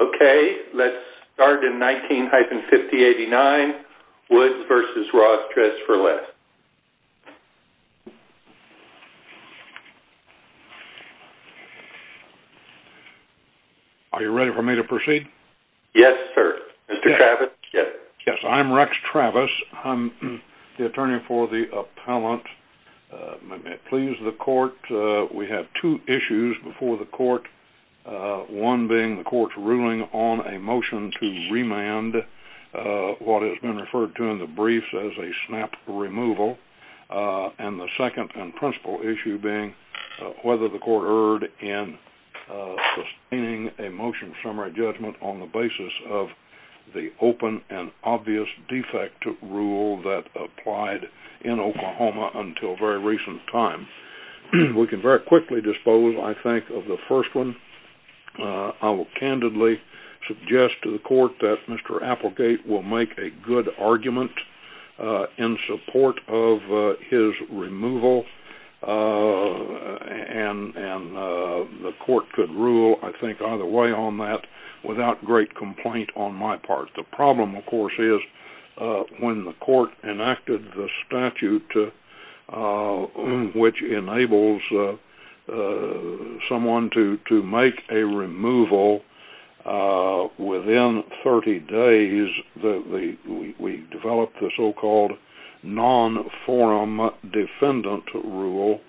Okay, let's start in 19-5089, Woods v. Ross Dress For Less. Are you ready for me to proceed? Yes, sir. Mr. Travis, yes. Yes, I'm Rex Travis. I'm the attorney for the appellant. Please, the court, we have two issues before the court. One being the court's ruling on a motion to remand what has been referred to in the briefs as a snap removal. And the second and principal issue being whether the court erred in sustaining a motion summary judgment on the basis of the open and obvious defect rule that applied in Oklahoma until very recent time. We can very quickly dispose, I think, of the first one. I will candidly suggest to the court that Mr. Applegate will make a good argument in support of his removal, and the court could rule, I think, either way on that without great complaint on my part. The problem, of course, is when the court enacted the statute which enables someone to make a removal within 30 days, we developed the so-called non-forum defendant rule,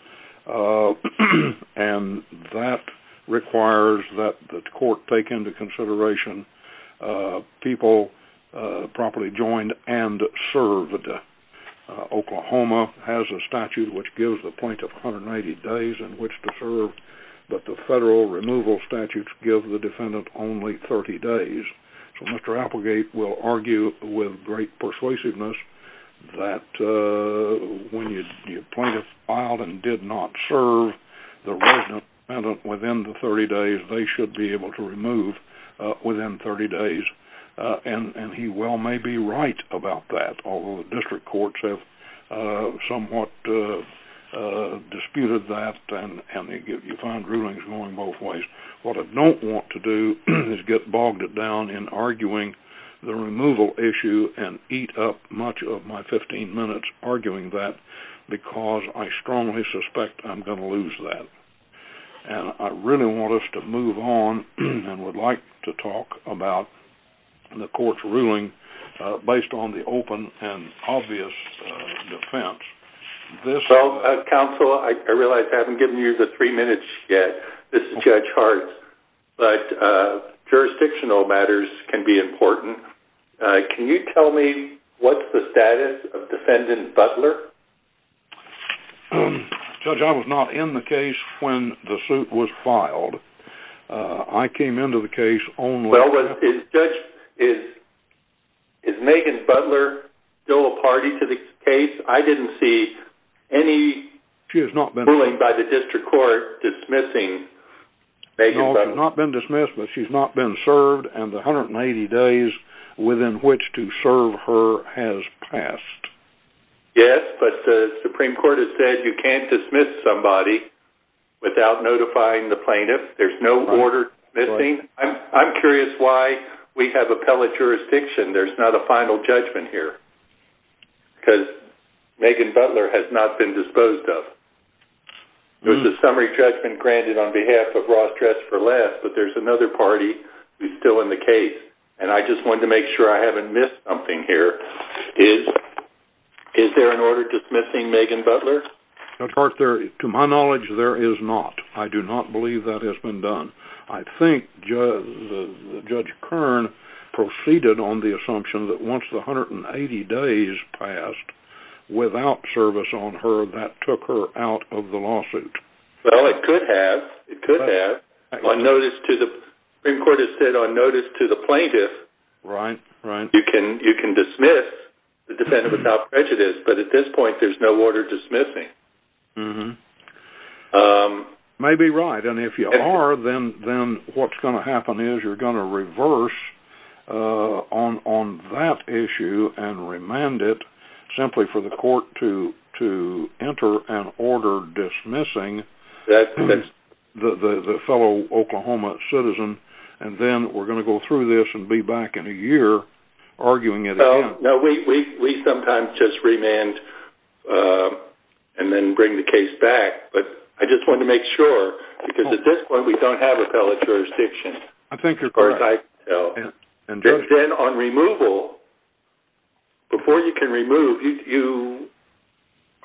and that requires that the court take into consideration people properly joined and served. Oklahoma has a statute which gives the plaintiff 180 days in which to serve, but the federal removal statutes give the defendant only 30 days. So Mr. Applegate will argue with great persuasiveness that when your plaintiff filed and did not serve the resident within the 30 days, they should be able to remove within 30 days. And he well may be right about that, although the district courts have somewhat disputed that and you find rulings going both ways. What I don't want to do is get bogged down in arguing the removal issue and eat up much of my 15 minutes arguing that because I strongly suspect I'm going to lose that. I really want us to move on and would like to talk about the court's ruling based on the open and obvious defense. Counsel, I realize I haven't given you the three minutes yet. This is Judge Hartz, but jurisdictional matters can be important. Can you tell me what's the status of Defendant Butler? Judge, I was not in the case when the suit was filed. I came into the case only after— Well, Judge, is Megan Butler still a party to the case? I didn't see any ruling by the district court dismissing Megan Butler. No, she's not been dismissed, but she's not been served, and the 180 days within which to serve her has passed. Yes, but the Supreme Court has said you can't dismiss somebody without notifying the plaintiff. There's no order dismissing. I'm curious why we have appellate jurisdiction. There's not a final judgment here because Megan Butler has not been disposed of. There's a summary judgment granted on behalf of Ross Dress for Less, but there's another party who's still in the case, and I just wanted to make sure I haven't missed something here. Is there an order dismissing Megan Butler? Judge Hartz, to my knowledge, there is not. I do not believe that has been done. I think Judge Kern proceeded on the assumption that once the 180 days passed without service on her, that took her out of the lawsuit. Well, it could have. It could have. The Supreme Court has said on notice to the plaintiff you can dismiss the defendant without prejudice, but at this point there's no order dismissing. Maybe right, and if you are, then what's going to happen is you're going to reverse on that issue and remand it simply for the court to enter an order dismissing the fellow Oklahoma citizen, and then we're going to go through this and be back in a year arguing it again. We sometimes just remand and then bring the case back, but I just wanted to make sure because at this point we don't have appellate jurisdiction. I think you're correct. Then on removal, before you can remove, you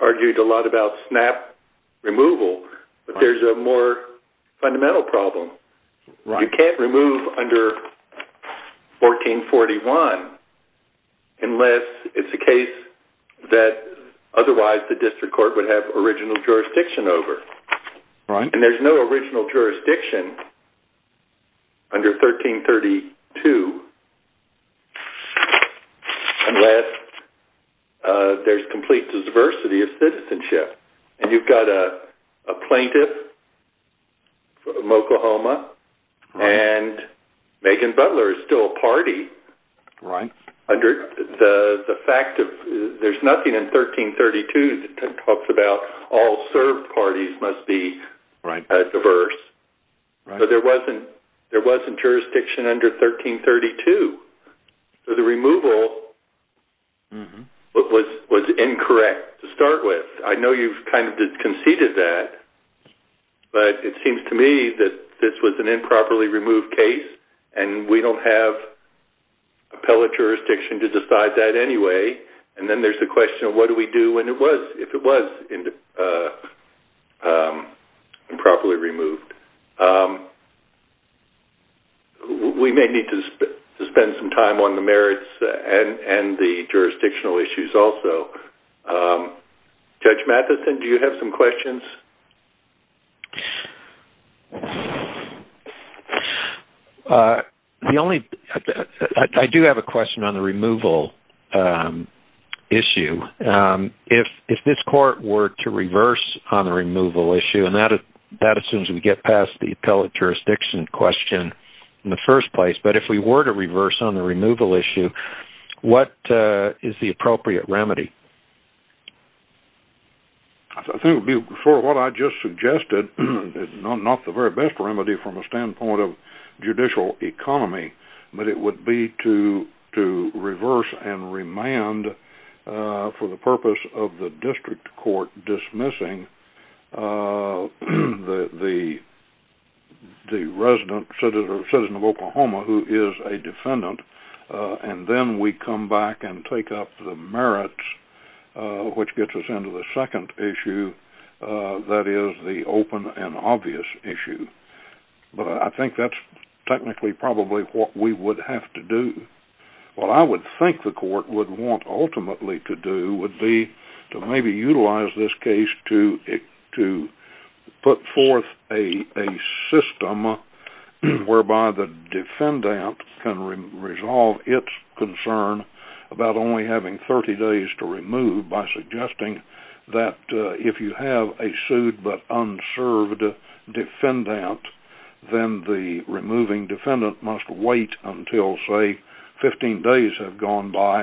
argued a lot about snap removal, but there's a more fundamental problem. You can't remove under 1441 unless it's a case that otherwise the district court would have original jurisdiction over, and there's no original jurisdiction under 1332 unless there's complete diversity of citizenship, and you've got a plaintiff from Oklahoma and Megan Butler is still a party. There's nothing in 1332 that talks about all served parties must be diverse, but there wasn't jurisdiction under 1332, so the removal was incorrect to start with. I know you've kind of conceded that, but it seems to me that this was an improperly removed case and we don't have appellate jurisdiction to decide that anyway, and then there's the question of what do we do if it was improperly removed. We may need to spend some time on the merits and the jurisdictional issues also. Judge Mathison, do you have some questions? I do have a question on the removal issue. If this court were to reverse on the removal issue, and that assumes we get past the appellate jurisdiction question in the first place, but if we were to reverse on the removal issue, what is the appropriate remedy? I think it would be sort of what I just suggested, not the very best remedy from a standpoint of judicial economy, but it would be to reverse and remand for the purpose of the district court dismissing the resident citizen of Oklahoma who is a defendant, and then we come back and take up the merits, which gets us into the second issue, that is the open and obvious issue. But I think that's technically probably what we would have to do. What I would think the court would want ultimately to do would be to maybe utilize this case to put forth a system whereby the defendant can resolve its concern about only having 30 days to remove by suggesting that if you have a sued but unserved defendant, then the removing defendant must wait until, say, 15 days have gone by,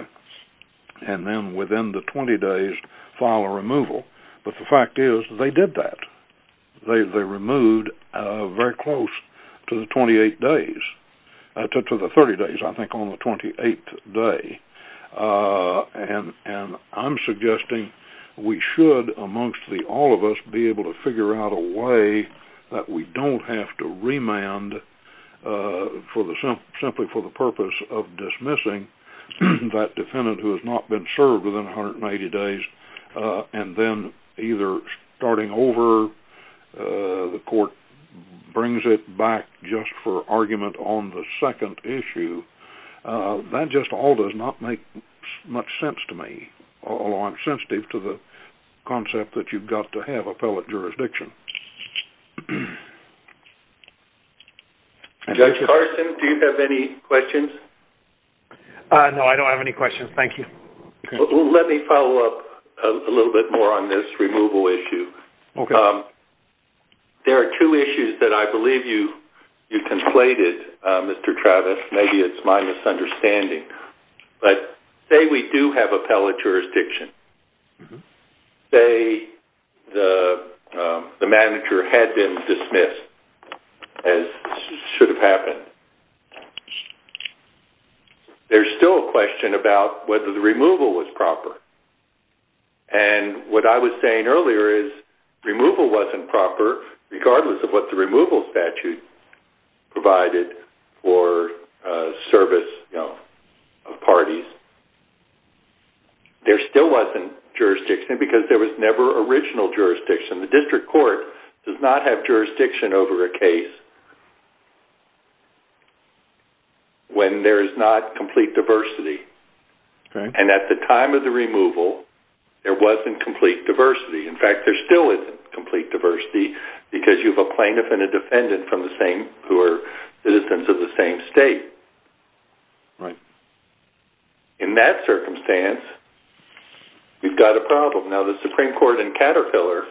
and then within the 20 days, file a removal. But the fact is they did that. They removed very close to the 30 days, I think, on the 28th day. And I'm suggesting we should, amongst all of us, be able to figure out a way that we don't have to remand simply for the purpose of dismissing that defendant who has not been served within 180 days, and then either starting over, the court brings it back just for argument on the second issue. That just all does not make much sense to me, although I'm sensitive to the concept that you've got to have appellate jurisdiction. Judge Carson, do you have any questions? No, I don't have any questions. Thank you. Let me follow up a little bit more on this removal issue. There are two issues that I believe you conflated, Mr. Travis. Maybe it's my misunderstanding. Say we do have appellate jurisdiction. Say the manager had been dismissed, as should have happened. There's still a question about whether the removal was proper. And what I was saying earlier is removal wasn't proper, regardless of what the removal statute provided for service of parties. There still wasn't jurisdiction because there was never original jurisdiction. The district court does not have jurisdiction over a case. When there is not complete diversity. And at the time of the removal, there wasn't complete diversity. In fact, there still isn't complete diversity because you have a plaintiff and a defendant who are citizens of the same state. In that circumstance, you've got a problem. Now, the Supreme Court in Caterpillar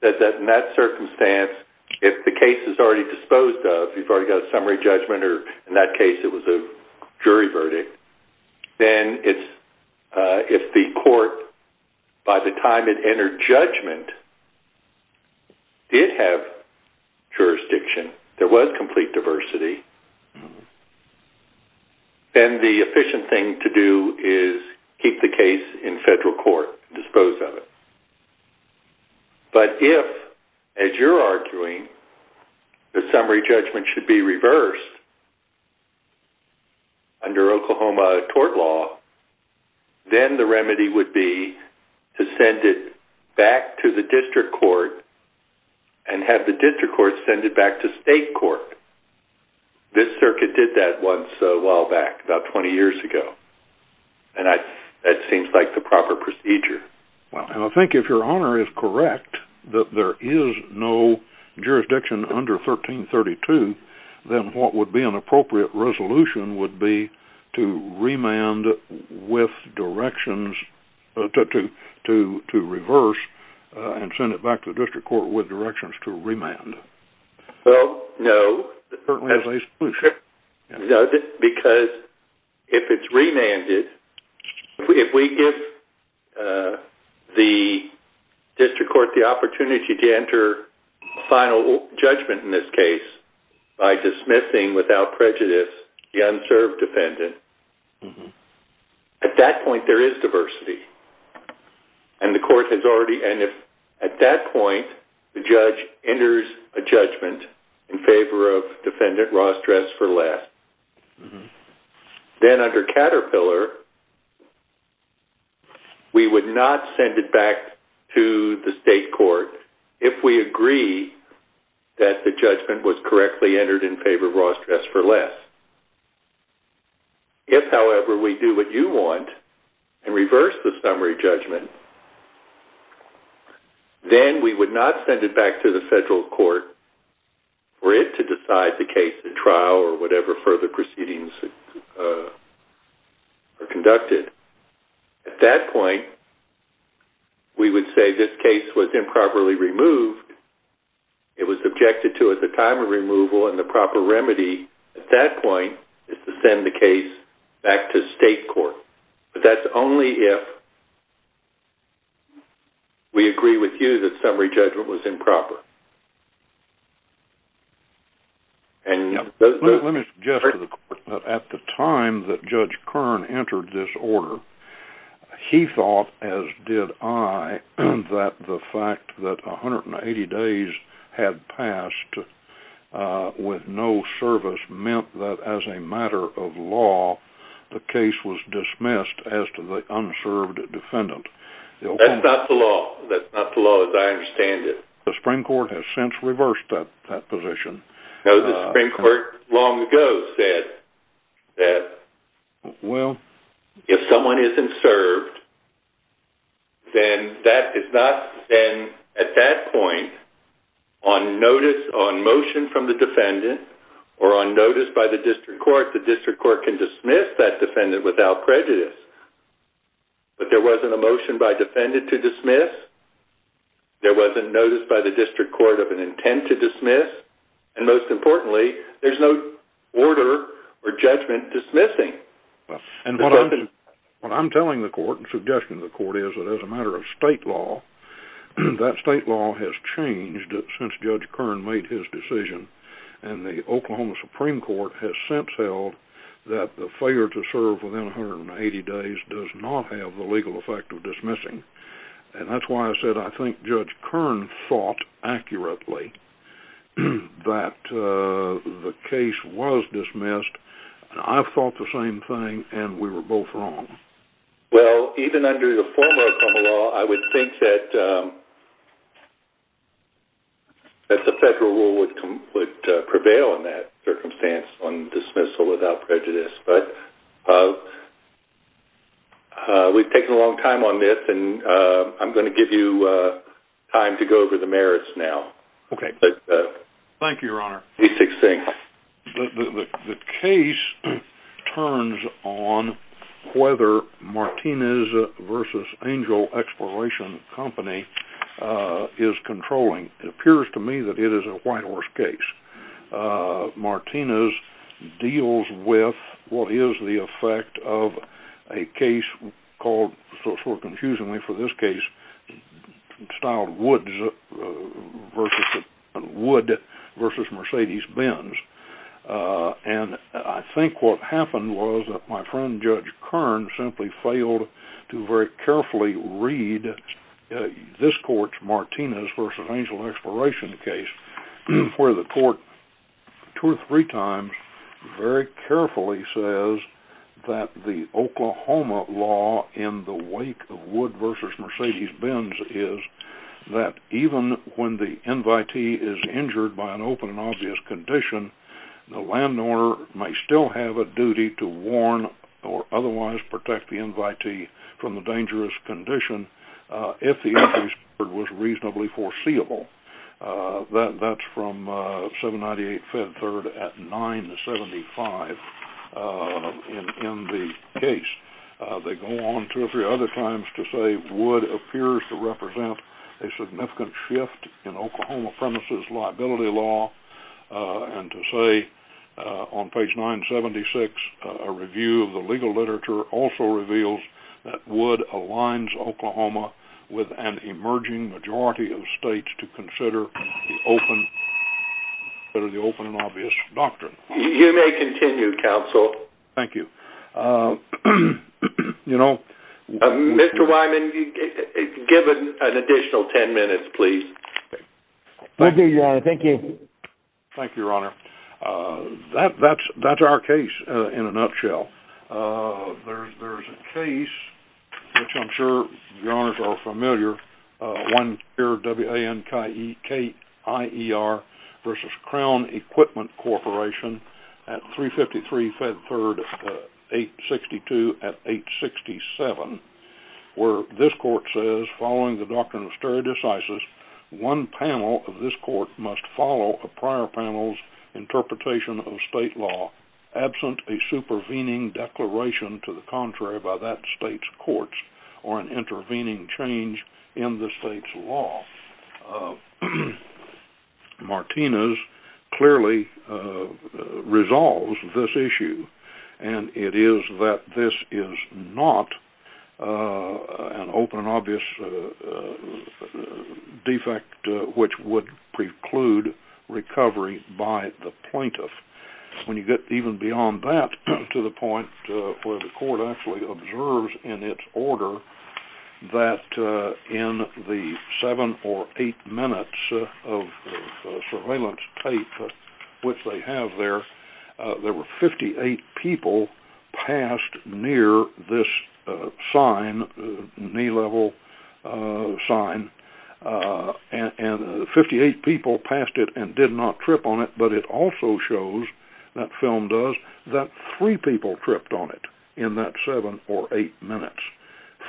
said that in that circumstance, if the case is already disposed of, you've already got a summary judgment, or in that case it was a jury verdict, then if the court, by the time it entered judgment, did have jurisdiction, there was complete diversity, then the efficient thing to do is keep the case in federal court, dispose of it. But if, as you're arguing, the summary judgment should be reversed under Oklahoma tort law, then the remedy would be to send it back to the district court and have the district court send it back to state court. This circuit did that once a while back, about 20 years ago. And that seems like the proper procedure. Well, and I think if your honor is correct that there is no jurisdiction under 1332, then what would be an appropriate resolution would be to remand with directions, to reverse and send it back to the district court with directions to remand. Well, no. It certainly is a solution. Because if it's remanded, if we give the district court the opportunity to enter final judgment in this case by dismissing without prejudice the unserved defendant, at that point there is diversity. And if at that point the judge enters a judgment in favor of defendant Ross Dress for Less, then under Caterpillar we would not send it back to the state court if we agree that the judgment was correctly entered in favor of Ross Dress for Less. If, however, we do what you want and reverse the summary judgment, then we would not send it back to the federal court for it to decide the case at trial or whatever further proceedings are conducted. At that point, we would say this case was improperly removed. It was objected to at the time of removal and the proper remedy. At that point, it's to send the case back to state court. But that's only if we agree with you that summary judgment was improper. Let me suggest to the court that at the time that Judge Kern entered this order, he thought, as did I, that the fact that 180 days had passed with no service meant that as a matter of law the case was dismissed as to the unserved defendant. That's not the law. That's not the law as I understand it. The Supreme Court has since reversed that position. No, the Supreme Court long ago said that if someone isn't served, then at that point on motion from the defendant or on notice by the district court, the district court can dismiss that defendant without prejudice. But there wasn't a motion by defendant to dismiss. There wasn't notice by the district court of an intent to dismiss. And most importantly, there's no order or judgment dismissing the defendant. What I'm telling the court and suggesting to the court is that as a matter of state law, that state law has changed since Judge Kern made his decision. And the Oklahoma Supreme Court has since held that the failure to serve within 180 days does not have the legal effect of dismissing. And that's why I said I think Judge Kern thought accurately that the case was dismissed. I thought the same thing, and we were both wrong. Well, even under the former Oklahoma law, I would think that the federal rule would prevail in that circumstance on dismissal without prejudice. But we've taken a long time on this, and I'm going to give you time to go over the merits now. Okay. Thank you, Your Honor. Please take a seat. The case turns on whether Martinez v. Angel Exploration Company is controlling. It appears to me that it is a white horse case. Martinez deals with what is the effect of a case called, sort of confusingly for this case, Wood v. Mercedes Benz. And I think what happened was that my friend Judge Kern simply failed to very carefully read this court's Martinez v. Angel Exploration case, where the court two or three times very carefully says that the Oklahoma law in the wake of Wood v. Mercedes Benz is that even when the invitee is injured by an open and obvious condition, the landowner may still have a duty to warn or otherwise protect the invitee from the dangerous condition if the increase was reasonably foreseeable. That's from 798 Fed Third at 975 in the case. They go on two or three other times to say Wood appears to represent a significant shift in Oklahoma premises liability law, and to say on page 976, a review of the legal literature also reveals that Wood aligns Oklahoma with an emerging majority of states to consider the open and obvious doctrine. You may continue, Counsel. Thank you. Mr. Wyman, give an additional ten minutes, please. Thank you, Your Honor. That's our case in a nutshell. There's a case, which I'm sure Your Honors are familiar, W.A.N.K.I.E.R. v. Crown Equipment Corporation at 353 Fed Third, 862 at 867, where this court says, following the doctrine of stare decisis, one panel of this court must follow a prior panel's interpretation of state law absent a supervening declaration to the contrary by that state's courts or an intervening change in the state's law. Martinez clearly resolves this issue, and it is that this is not an open and obvious defect which would preclude recovery by the plaintiff. When you get even beyond that to the point where the court actually observes in its order that in the seven or eight minutes of surveillance tape which they have there, there were 58 people passed near this knee-level sign, and 58 people passed it and did not trip on it, but it also shows, that film does, that three people tripped on it in that seven or eight minutes.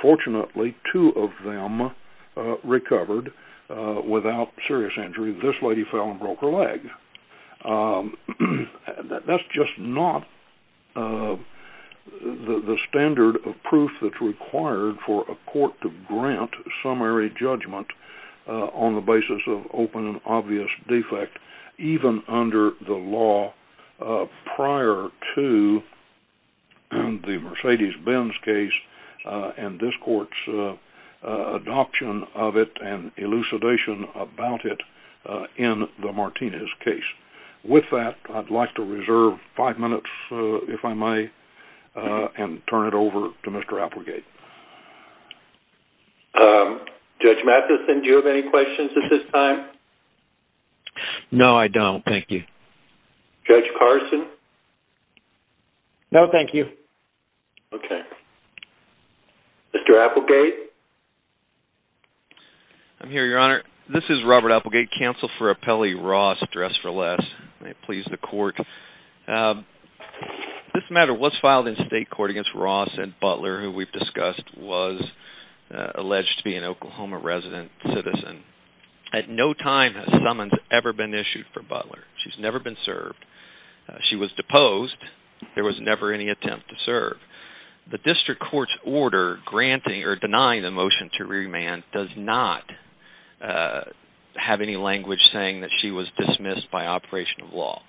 Fortunately, two of them recovered without serious injury. This lady fell and broke her leg. That's just not the standard of proof that's required for a court to grant summary judgment on the basis of open and obvious defect, even under the law prior to the Mercedes-Benz case and this court's adoption of it and elucidation about it in the Martinez case. With that, I'd like to reserve five minutes, if I may, and turn it over to Mr. Applegate. Judge Matheson, do you have any questions at this time? No, I don't. Thank you. Judge Carson? No, thank you. Okay. Mr. Applegate? I'm here, Your Honor. This is Robert Applegate, counsel for Appellee Ross, dressed for less. May it please the court. This matter was filed in state court against Ross and Butler, who we've discussed was alleged to be an Oklahoma resident citizen. At no time has summons ever been issued for Butler. She's never been served. She was deposed. There was never any attempt to serve. The district court's order granting or denying the motion to remand does not have any language saying that she was dismissed by operation of law.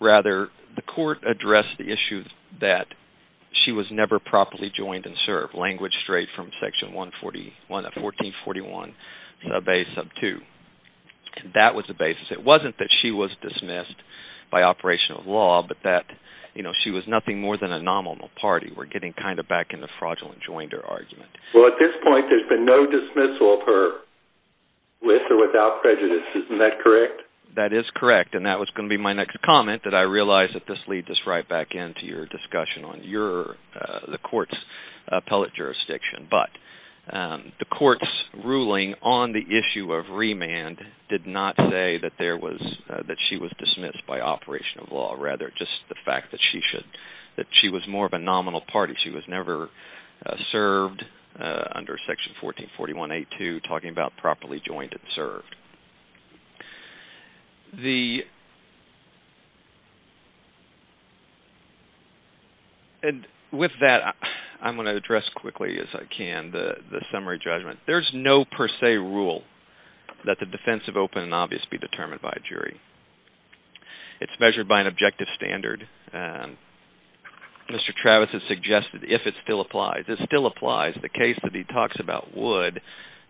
Rather, the court addressed the issue that she was never properly joined and served, language straight from section 1441, sub a, sub 2. That was the basis. It wasn't that she was dismissed by operation of law, but that she was nothing more than a nominal party. We're getting kind of back in the fraudulent joinder argument. Well, at this point, there's been no dismissal of her with or without prejudice. Isn't that correct? That is correct, and that was going to be my next comment, that I realize that this leads us right back into your discussion on the court's appellate jurisdiction. But the court's ruling on the issue of remand did not say that she was dismissed by operation of law. Rather, just the fact that she was more of a nominal party. She was never served under section 1441, sub a, sub 2, talking about properly joined and served. With that, I'm going to address quickly as I can the summary judgment. There's no per se rule that the defense of open and obvious be determined by a jury. It's measured by an objective standard. Mr. Travis has suggested if it still applies. The case that he talks about would,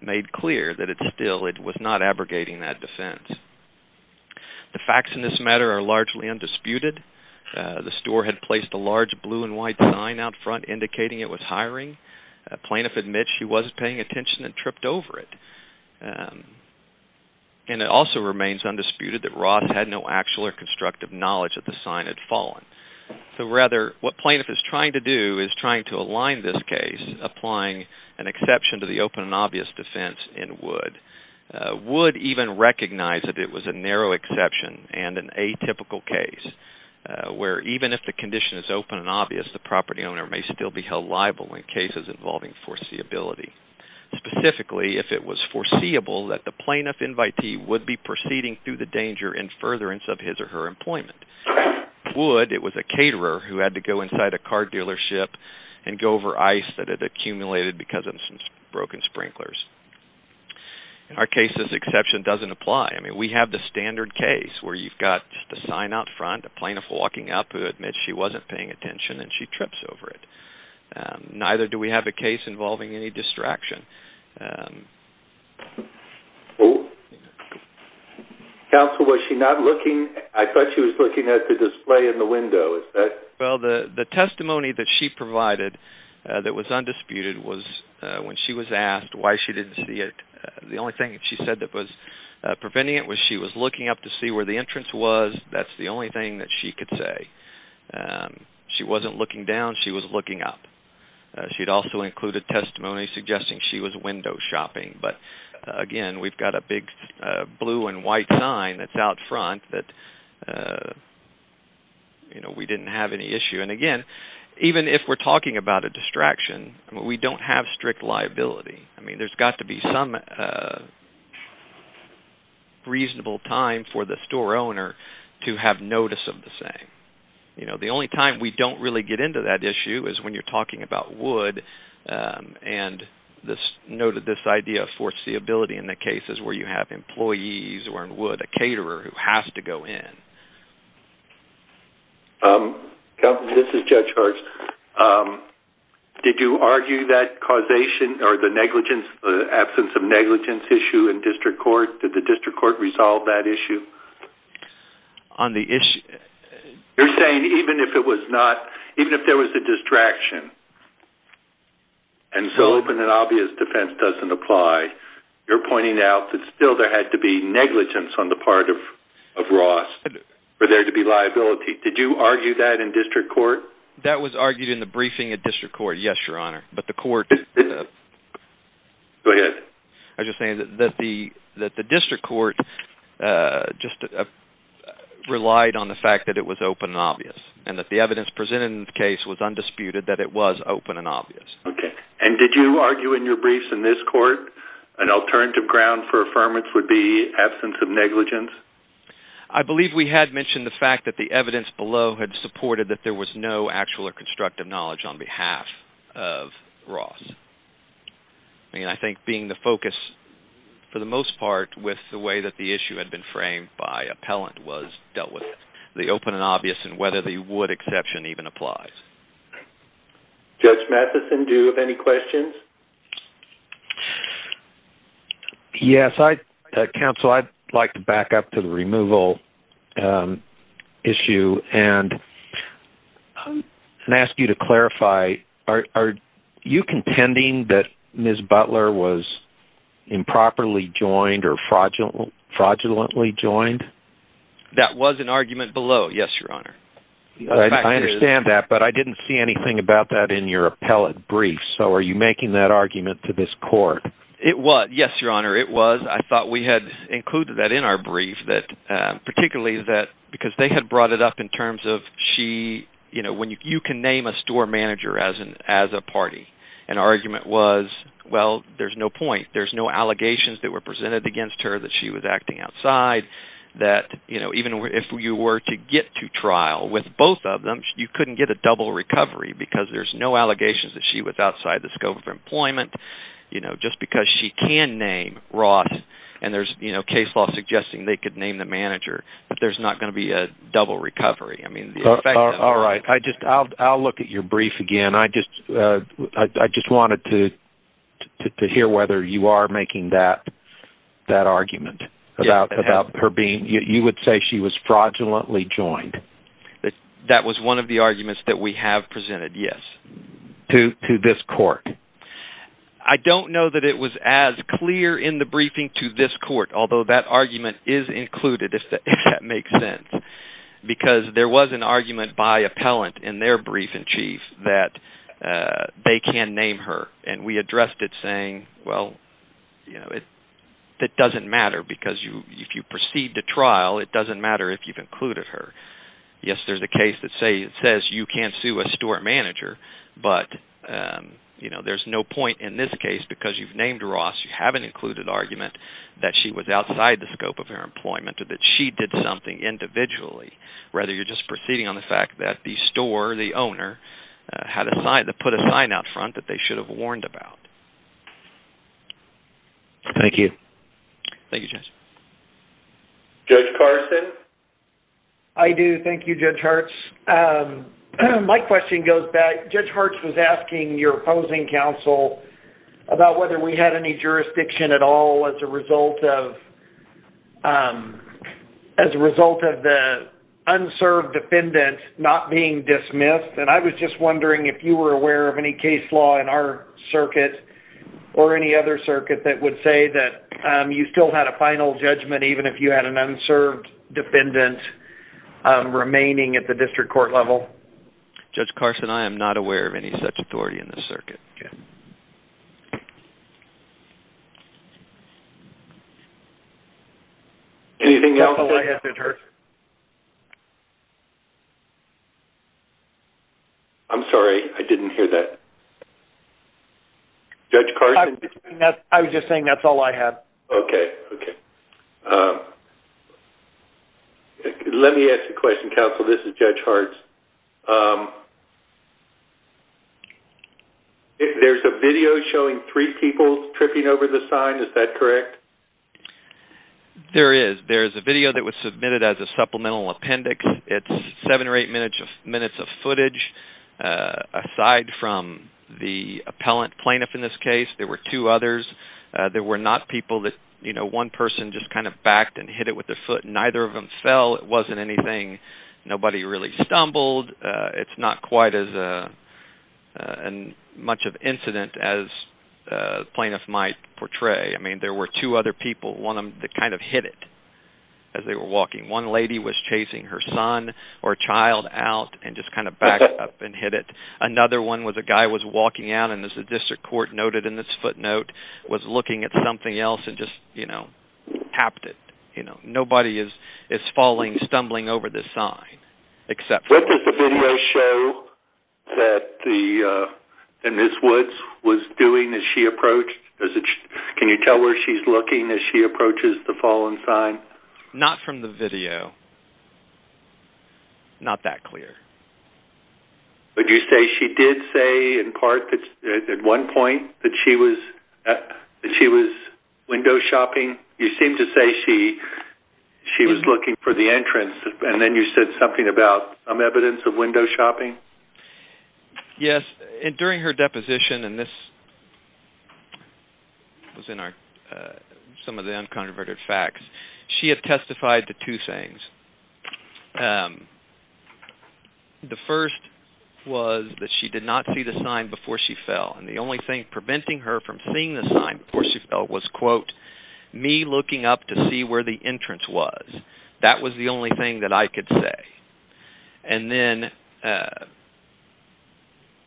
made clear that it still was not abrogating that defense. The facts in this matter are largely undisputed. The store had placed a large blue and white sign out front indicating it was hiring. A plaintiff admits she wasn't paying attention and tripped over it. And it also remains undisputed that Roth had no actual or constructive knowledge that the sign had fallen. So rather, what plaintiff is trying to do is trying to align this case applying an exception to the open and obvious defense in Wood. Wood even recognized that it was a narrow exception and an atypical case. Where even if the condition is open and obvious, the property owner may still be held liable in cases involving foreseeability. Specifically, if it was foreseeable that the plaintiff invitee would be proceeding through the danger in furtherance of his or her employment. Wood, it was a caterer who had to go inside a car dealership and go over ice that had accumulated because of some broken sprinklers. In our case, this exception doesn't apply. I mean, we have the standard case where you've got the sign out front, a plaintiff walking up who admits she wasn't paying attention and she trips over it. Neither do we have a case involving any distraction. Counsel, was she not looking? I thought she was looking at the display in the window. Well, the testimony that she provided that was undisputed was when she was asked why she didn't see it, the only thing that she said that was preventing it was she was looking up to see where the entrance was. That's the only thing that she could say. She wasn't looking down. She was looking up. She'd also included testimony suggesting she was window shopping. But, again, we've got a big blue and white sign that's out front that we didn't have any issue. And, again, even if we're talking about a distraction, we don't have strict liability. I mean, there's got to be some reasonable time for the store owner to have notice of the same. The only time we don't really get into that issue is when you're talking about wood and this idea of foreseeability in the cases where you have employees or wood, a caterer who has to go in. Counsel, this is Judge Hartz. Did you argue that causation or the absence of negligence issue in district court? Did the district court resolve that issue? On the issue? You're saying even if there was a distraction and so an obvious defense doesn't apply, you're pointing out that still there had to be negligence on the part of Ross for there to be liability. Did you argue that in district court? That was argued in the briefing at district court, yes, Your Honor. Go ahead. I was just saying that the district court just relied on the fact that it was open and obvious and that the evidence presented in the case was undisputed that it was open and obvious. Okay. And did you argue in your briefs in this court an alternative ground for affirmance would be absence of negligence? I believe we had mentioned the fact that the evidence below had supported that there was no actual or constructive knowledge on behalf of Ross. I think being the focus, for the most part, with the way that the issue had been framed by appellant was dealt with. The open and obvious and whether the would exception even applies. Judge Matheson, do you have any questions? Yes. Counsel, I'd like to back up to the removal issue and ask you to clarify, are you contending that Ms. Butler was improperly joined or fraudulently joined? That was an argument below, yes, Your Honor. I understand that, but I didn't see anything about that in your appellate brief, so are you making that argument to this court? Yes, Your Honor, it was. I thought we had included that in our brief, particularly because they had brought it up in terms of you can name a store manager as a party. And our argument was, well, there's no point. There's no allegations that were presented against her that she was acting outside. Even if you were to get to trial with both of them, you couldn't get a double recovery because there's no allegations that she was outside the scope of employment. Just because she can name Roth and there's case law suggesting they can name the manager, there's not going to be a double recovery. All right, I'll look at your brief again. I just wanted to hear whether you are making that argument. You would say she was fraudulently joined. That was one of the arguments that we have presented, yes. To this court? I don't know that it was as clear in the briefing to this court, although that argument is included, if that makes sense. Because there was an argument by appellant in their brief-in-chief that they can name her, and we addressed it saying, well, it doesn't matter because if you proceed to trial, it doesn't matter if you've included her. Yes, there's a case that says you can sue a store manager, but there's no point in this case because you've named Roth, you haven't included the argument that she was outside the scope of her employment or that she did something individually. Rather, you're just proceeding on the fact that the store, the owner, had put a sign out front that they should have warned about. Thank you. Thank you, Judge. Judge Carson? I do. Thank you, Judge Hertz. My question goes back. Judge Hertz was asking your opposing counsel about whether we had any jurisdiction at all as a result of the unserved defendant not being dismissed, and I was just wondering if you were aware of any case law in our circuit or any other circuit that would say that you still had a final judgment even if you had an unserved defendant remaining at the district court level. Judge Carson, I am not aware of any such authority in this circuit. Anything else? That's all I have, Judge Hertz. I'm sorry. I didn't hear that. Judge Carson? I was just saying that's all I have. Okay. Let me ask you a question, counsel. This is Judge Hertz. There's a video showing three people tripping over the sign. Is that correct? There is. There's a video that was submitted as a supplemental appendix. It's seven or eight minutes of footage. Aside from the appellant plaintiff in this case, there were two others. There were not people that one person just kind of backed and hit it with their foot and neither of them fell. It wasn't anything. Nobody really stumbled. It's not quite as much of an incident as the plaintiff might portray. I mean, there were two other people, one of them kind of hit it as they were walking. One lady was chasing her son or child out and just kind of backed up and hit it. Another one was a guy was walking out and, as the district court noted in this footnote, was looking at something else and just, you know, tapped it. You know, nobody is falling, stumbling over this sign except for one. What does the video show that Ms. Woods was doing as she approached? Can you tell where she's looking as she approaches the fallen sign? Not from the video. Not that clear. Would you say she did say in part at one point that she was window shopping? You seem to say she was looking for the entrance and then you said something about some evidence of window shopping. Yes. During her deposition, and this was in some of the unconverted facts, she had testified to two things. The first was that she did not see the sign before she fell, and the only thing preventing her from seeing the sign before she fell was, quote, me looking up to see where the entrance was. That was the only thing that I could say. And then,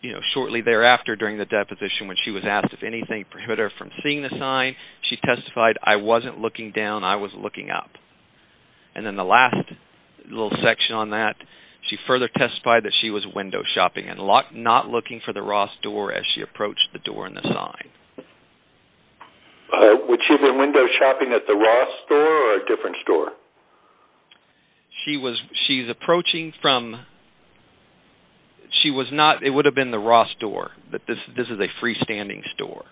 you know, shortly thereafter during the deposition when she was asked if anything prohibited her from seeing the sign, she testified, I wasn't looking down, I was looking up. And then the last little section on that, she further testified that she was window shopping and not looking for the Ross door as she approached the door in the sign. Would she have been window shopping at the Ross store or a different store? She's approaching from, she was not, it would have been the Ross store, but this is a freestanding store.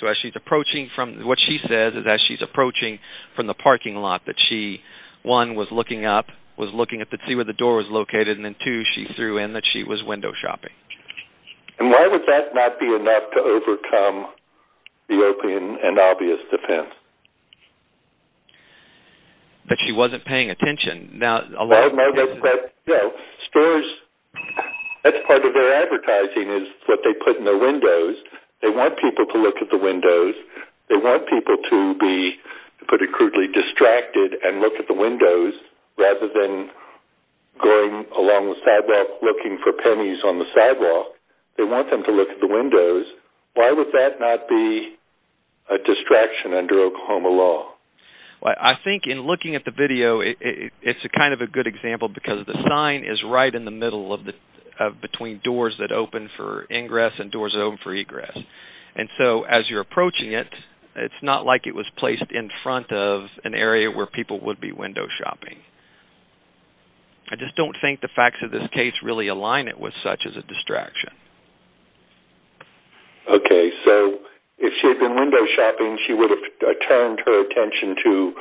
So as she's approaching from, what she says is as she's approaching from the parking lot that she, one, was looking up, was looking to see where the door was located, and then two, she threw in that she was window shopping. And why would that not be enough to overcome the open and obvious defense? That she wasn't paying attention. Now, stores, that's part of their advertising is what they put in their windows. They want people to look at the windows. They want people to be, to put it crudely, distracted and look at the windows rather than going along the sidewalk looking for pennies on the sidewalk. They want them to look at the windows. Why would that not be a distraction under Oklahoma law? Well, I think in looking at the video, it's kind of a good example because the sign is right in the middle between doors that open for ingress and doors that open for egress. And so as you're approaching it, it's not like it was placed in front of an area where people would be window shopping. I just don't think the facts of this case really align it with such as a distraction. Okay. So if she had been window shopping, she would have turned her attention to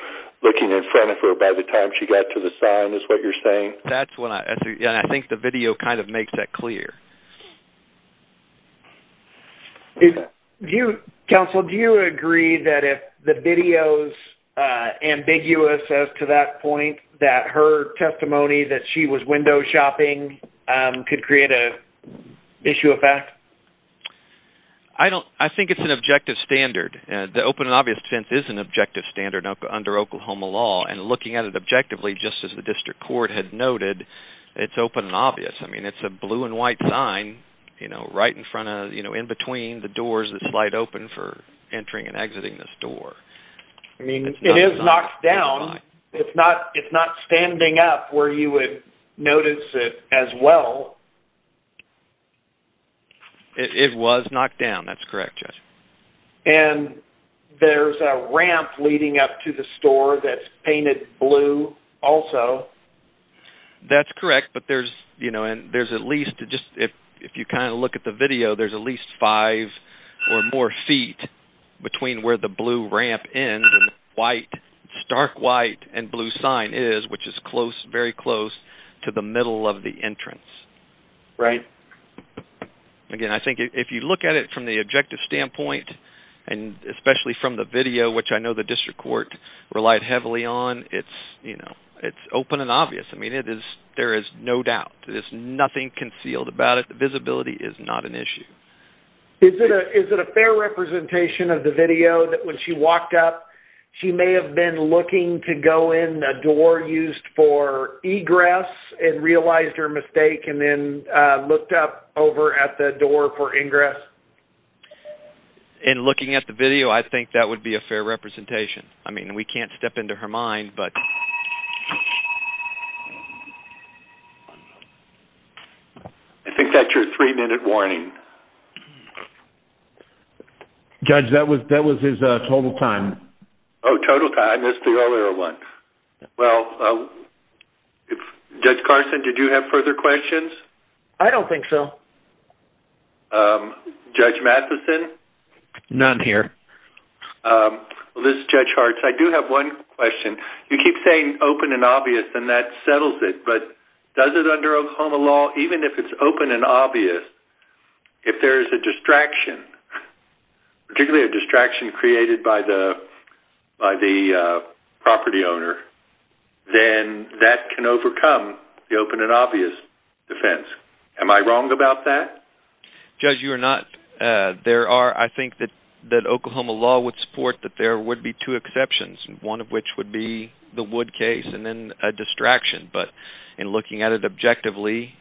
looking in front of her by the time she got to the sign is what you're saying? I think the video kind of makes that clear. Counsel, do you agree that if the video is ambiguous as to that point, that her testimony that she was window shopping could create an issue of fact? I think it's an objective standard. The open and obvious defense is an objective standard under Oklahoma law. And looking at it objectively, just as the district court had noted, it's open and obvious. I mean, it's a blue and white sign right in between the doors that slide open for entering and exiting the store. It is knocked down. It's not standing up where you would notice it as well. It was knocked down. That's correct, Judge. And there's a ramp leading up to the store that's painted blue also. That's correct. But there's at least, if you kind of look at the video, there's at least five or more feet between where the blue ramp ends and stark white and blue sign is, which is very close to the middle of the entrance. Right. Again, I think if you look at it from the objective standpoint and especially from the video, which I know the district court relied heavily on, it's open and obvious. I mean, there is no doubt. There's nothing concealed about it. Visibility is not an issue. Is it a fair representation of the video that when she walked up, she may have been looking to go in a door used for egress and realized her mistake and then looked up over at the door for ingress? In looking at the video, I think that would be a fair representation. I mean, we can't step into her mind, but... I think that's your three-minute warning. Judge, that was his total time. Oh, total time. That's the earlier one. Well, Judge Carson, did you have further questions? I don't think so. Judge Matheson? None here. Well, this is Judge Hartz. I do have one question. You keep saying open and obvious and that settles it, but does it under Oklahoma law, even if it's open and obvious, if there is a distraction, particularly a distraction created by the property owner, then that can overcome the open and obvious defense. Am I wrong about that? Judge, you are not. I think that Oklahoma law would support that there would be two exceptions, one of which would be the Wood case and then a distraction. But in looking at it objectively,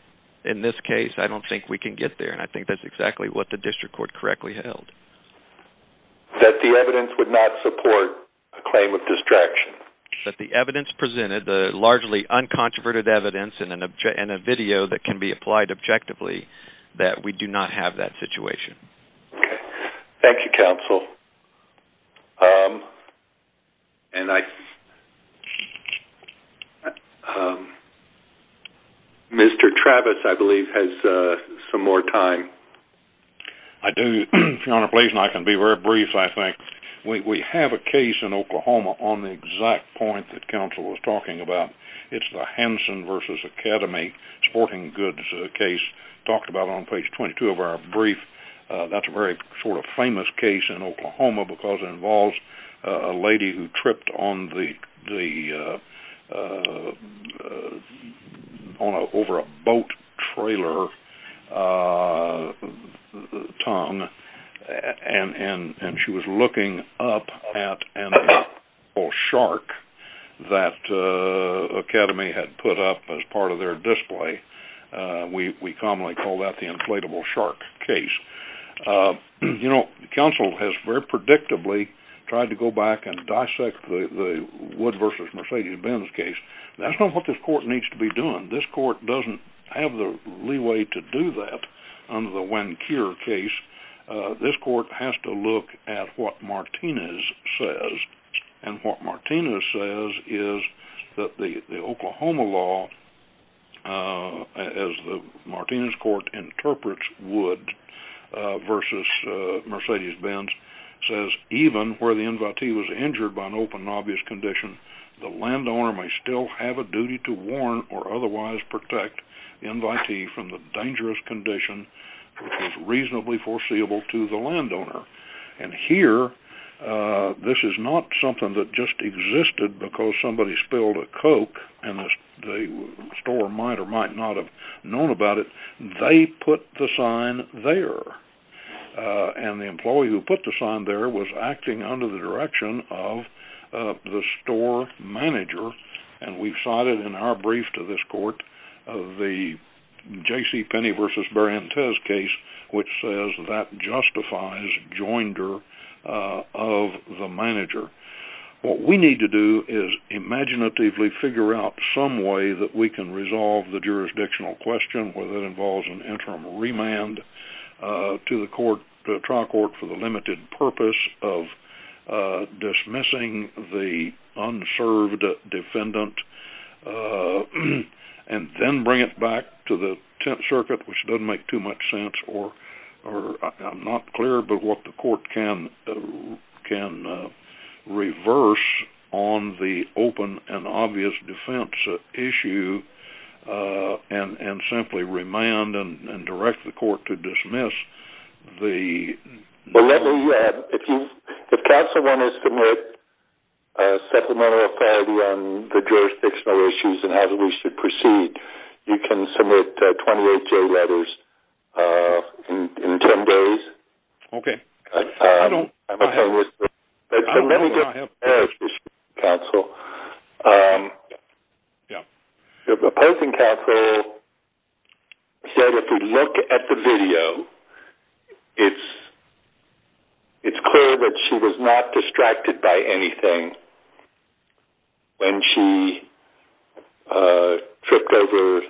in this case, I don't think we can get there. And I think that's exactly what the district court correctly held. That the evidence would not support a claim of distraction. That the evidence presented, the largely uncontroverted evidence and a video that can be applied objectively, that we do not have that situation. Okay. Thank you, counsel. And I... Mr. Travis, I believe, has some more time. I do, Your Honor, please. And I can be very brief, I think. We have a case in Oklahoma on the exact point that counsel was talking about. It's the Hanson v. Academy sporting goods case, talked about on page 22 of our brief. That's a very sort of famous case in Oklahoma. Because it involves a lady who tripped over a boat trailer tongue. And she was looking up at an inflatable shark that Academy had put up as part of their display. We commonly call that the inflatable shark case. You know, counsel has very predictably tried to go back and dissect the Wood v. Mercedes-Benz case. That's not what this court needs to be doing. This court doesn't have the leeway to do that under the Wencure case. This court has to look at what Martinez says. And what Martinez says is that the Oklahoma law, as the Martinez court interprets Wood, versus Mercedes-Benz, says, even where the invitee was injured by an open and obvious condition, the landowner may still have a duty to warrant or otherwise protect the invitee from the dangerous condition which was reasonably foreseeable to the landowner. And here, this is not something that just existed because somebody spilled a Coke and the store might or might not have known about it. They put the sign there. And the employee who put the sign there was acting under the direction of the store manager. And we've cited in our brief to this court the J.C. Penney v. Barrientos case which says that justifies joinder of the manager. What we need to do is imaginatively figure out some way that we can resolve the jurisdictional question whether it involves an interim remand to the trial court for the limited purpose of dismissing the unserved defendant and then bring it back to the Tenth Circuit, which doesn't make too much sense. I'm not clear about what the court can reverse on the open and obvious defense issue and simply remand and direct the court to dismiss the... Well, let me... If counsel wants to submit supplemental authority on the jurisdictional issues and how we should proceed, you can submit 28 J letters in 10 days. Okay. I don't... There are many different areas, counsel. Yeah. The opposing counsel said if we look at the video, it's clear that she was not distracted by anything when she tripped over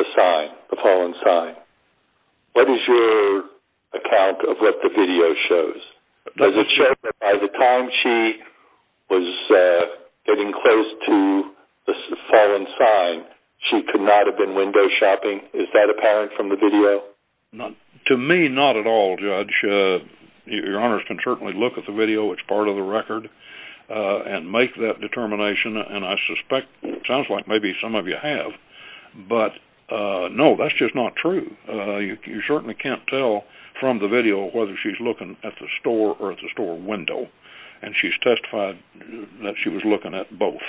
the sign, the fallen sign. What is your account of what the video shows? Does it show that by the time she was getting close to the fallen sign, she could not have been window shopping? Is that apparent from the video? To me, not at all, Judge. Your Honors can certainly look at the video, which is part of the record, and make that determination, and I suspect... It sounds like maybe some of you have, but no, that's just not true. You certainly can't tell from the video whether she's looking at the store or at the store window, and she's testified that she was looking at both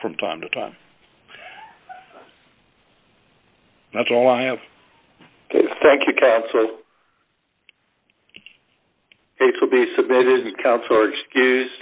from time to time. That's all I have. Thank you, counsel. These will be submitted, and counsel are excused.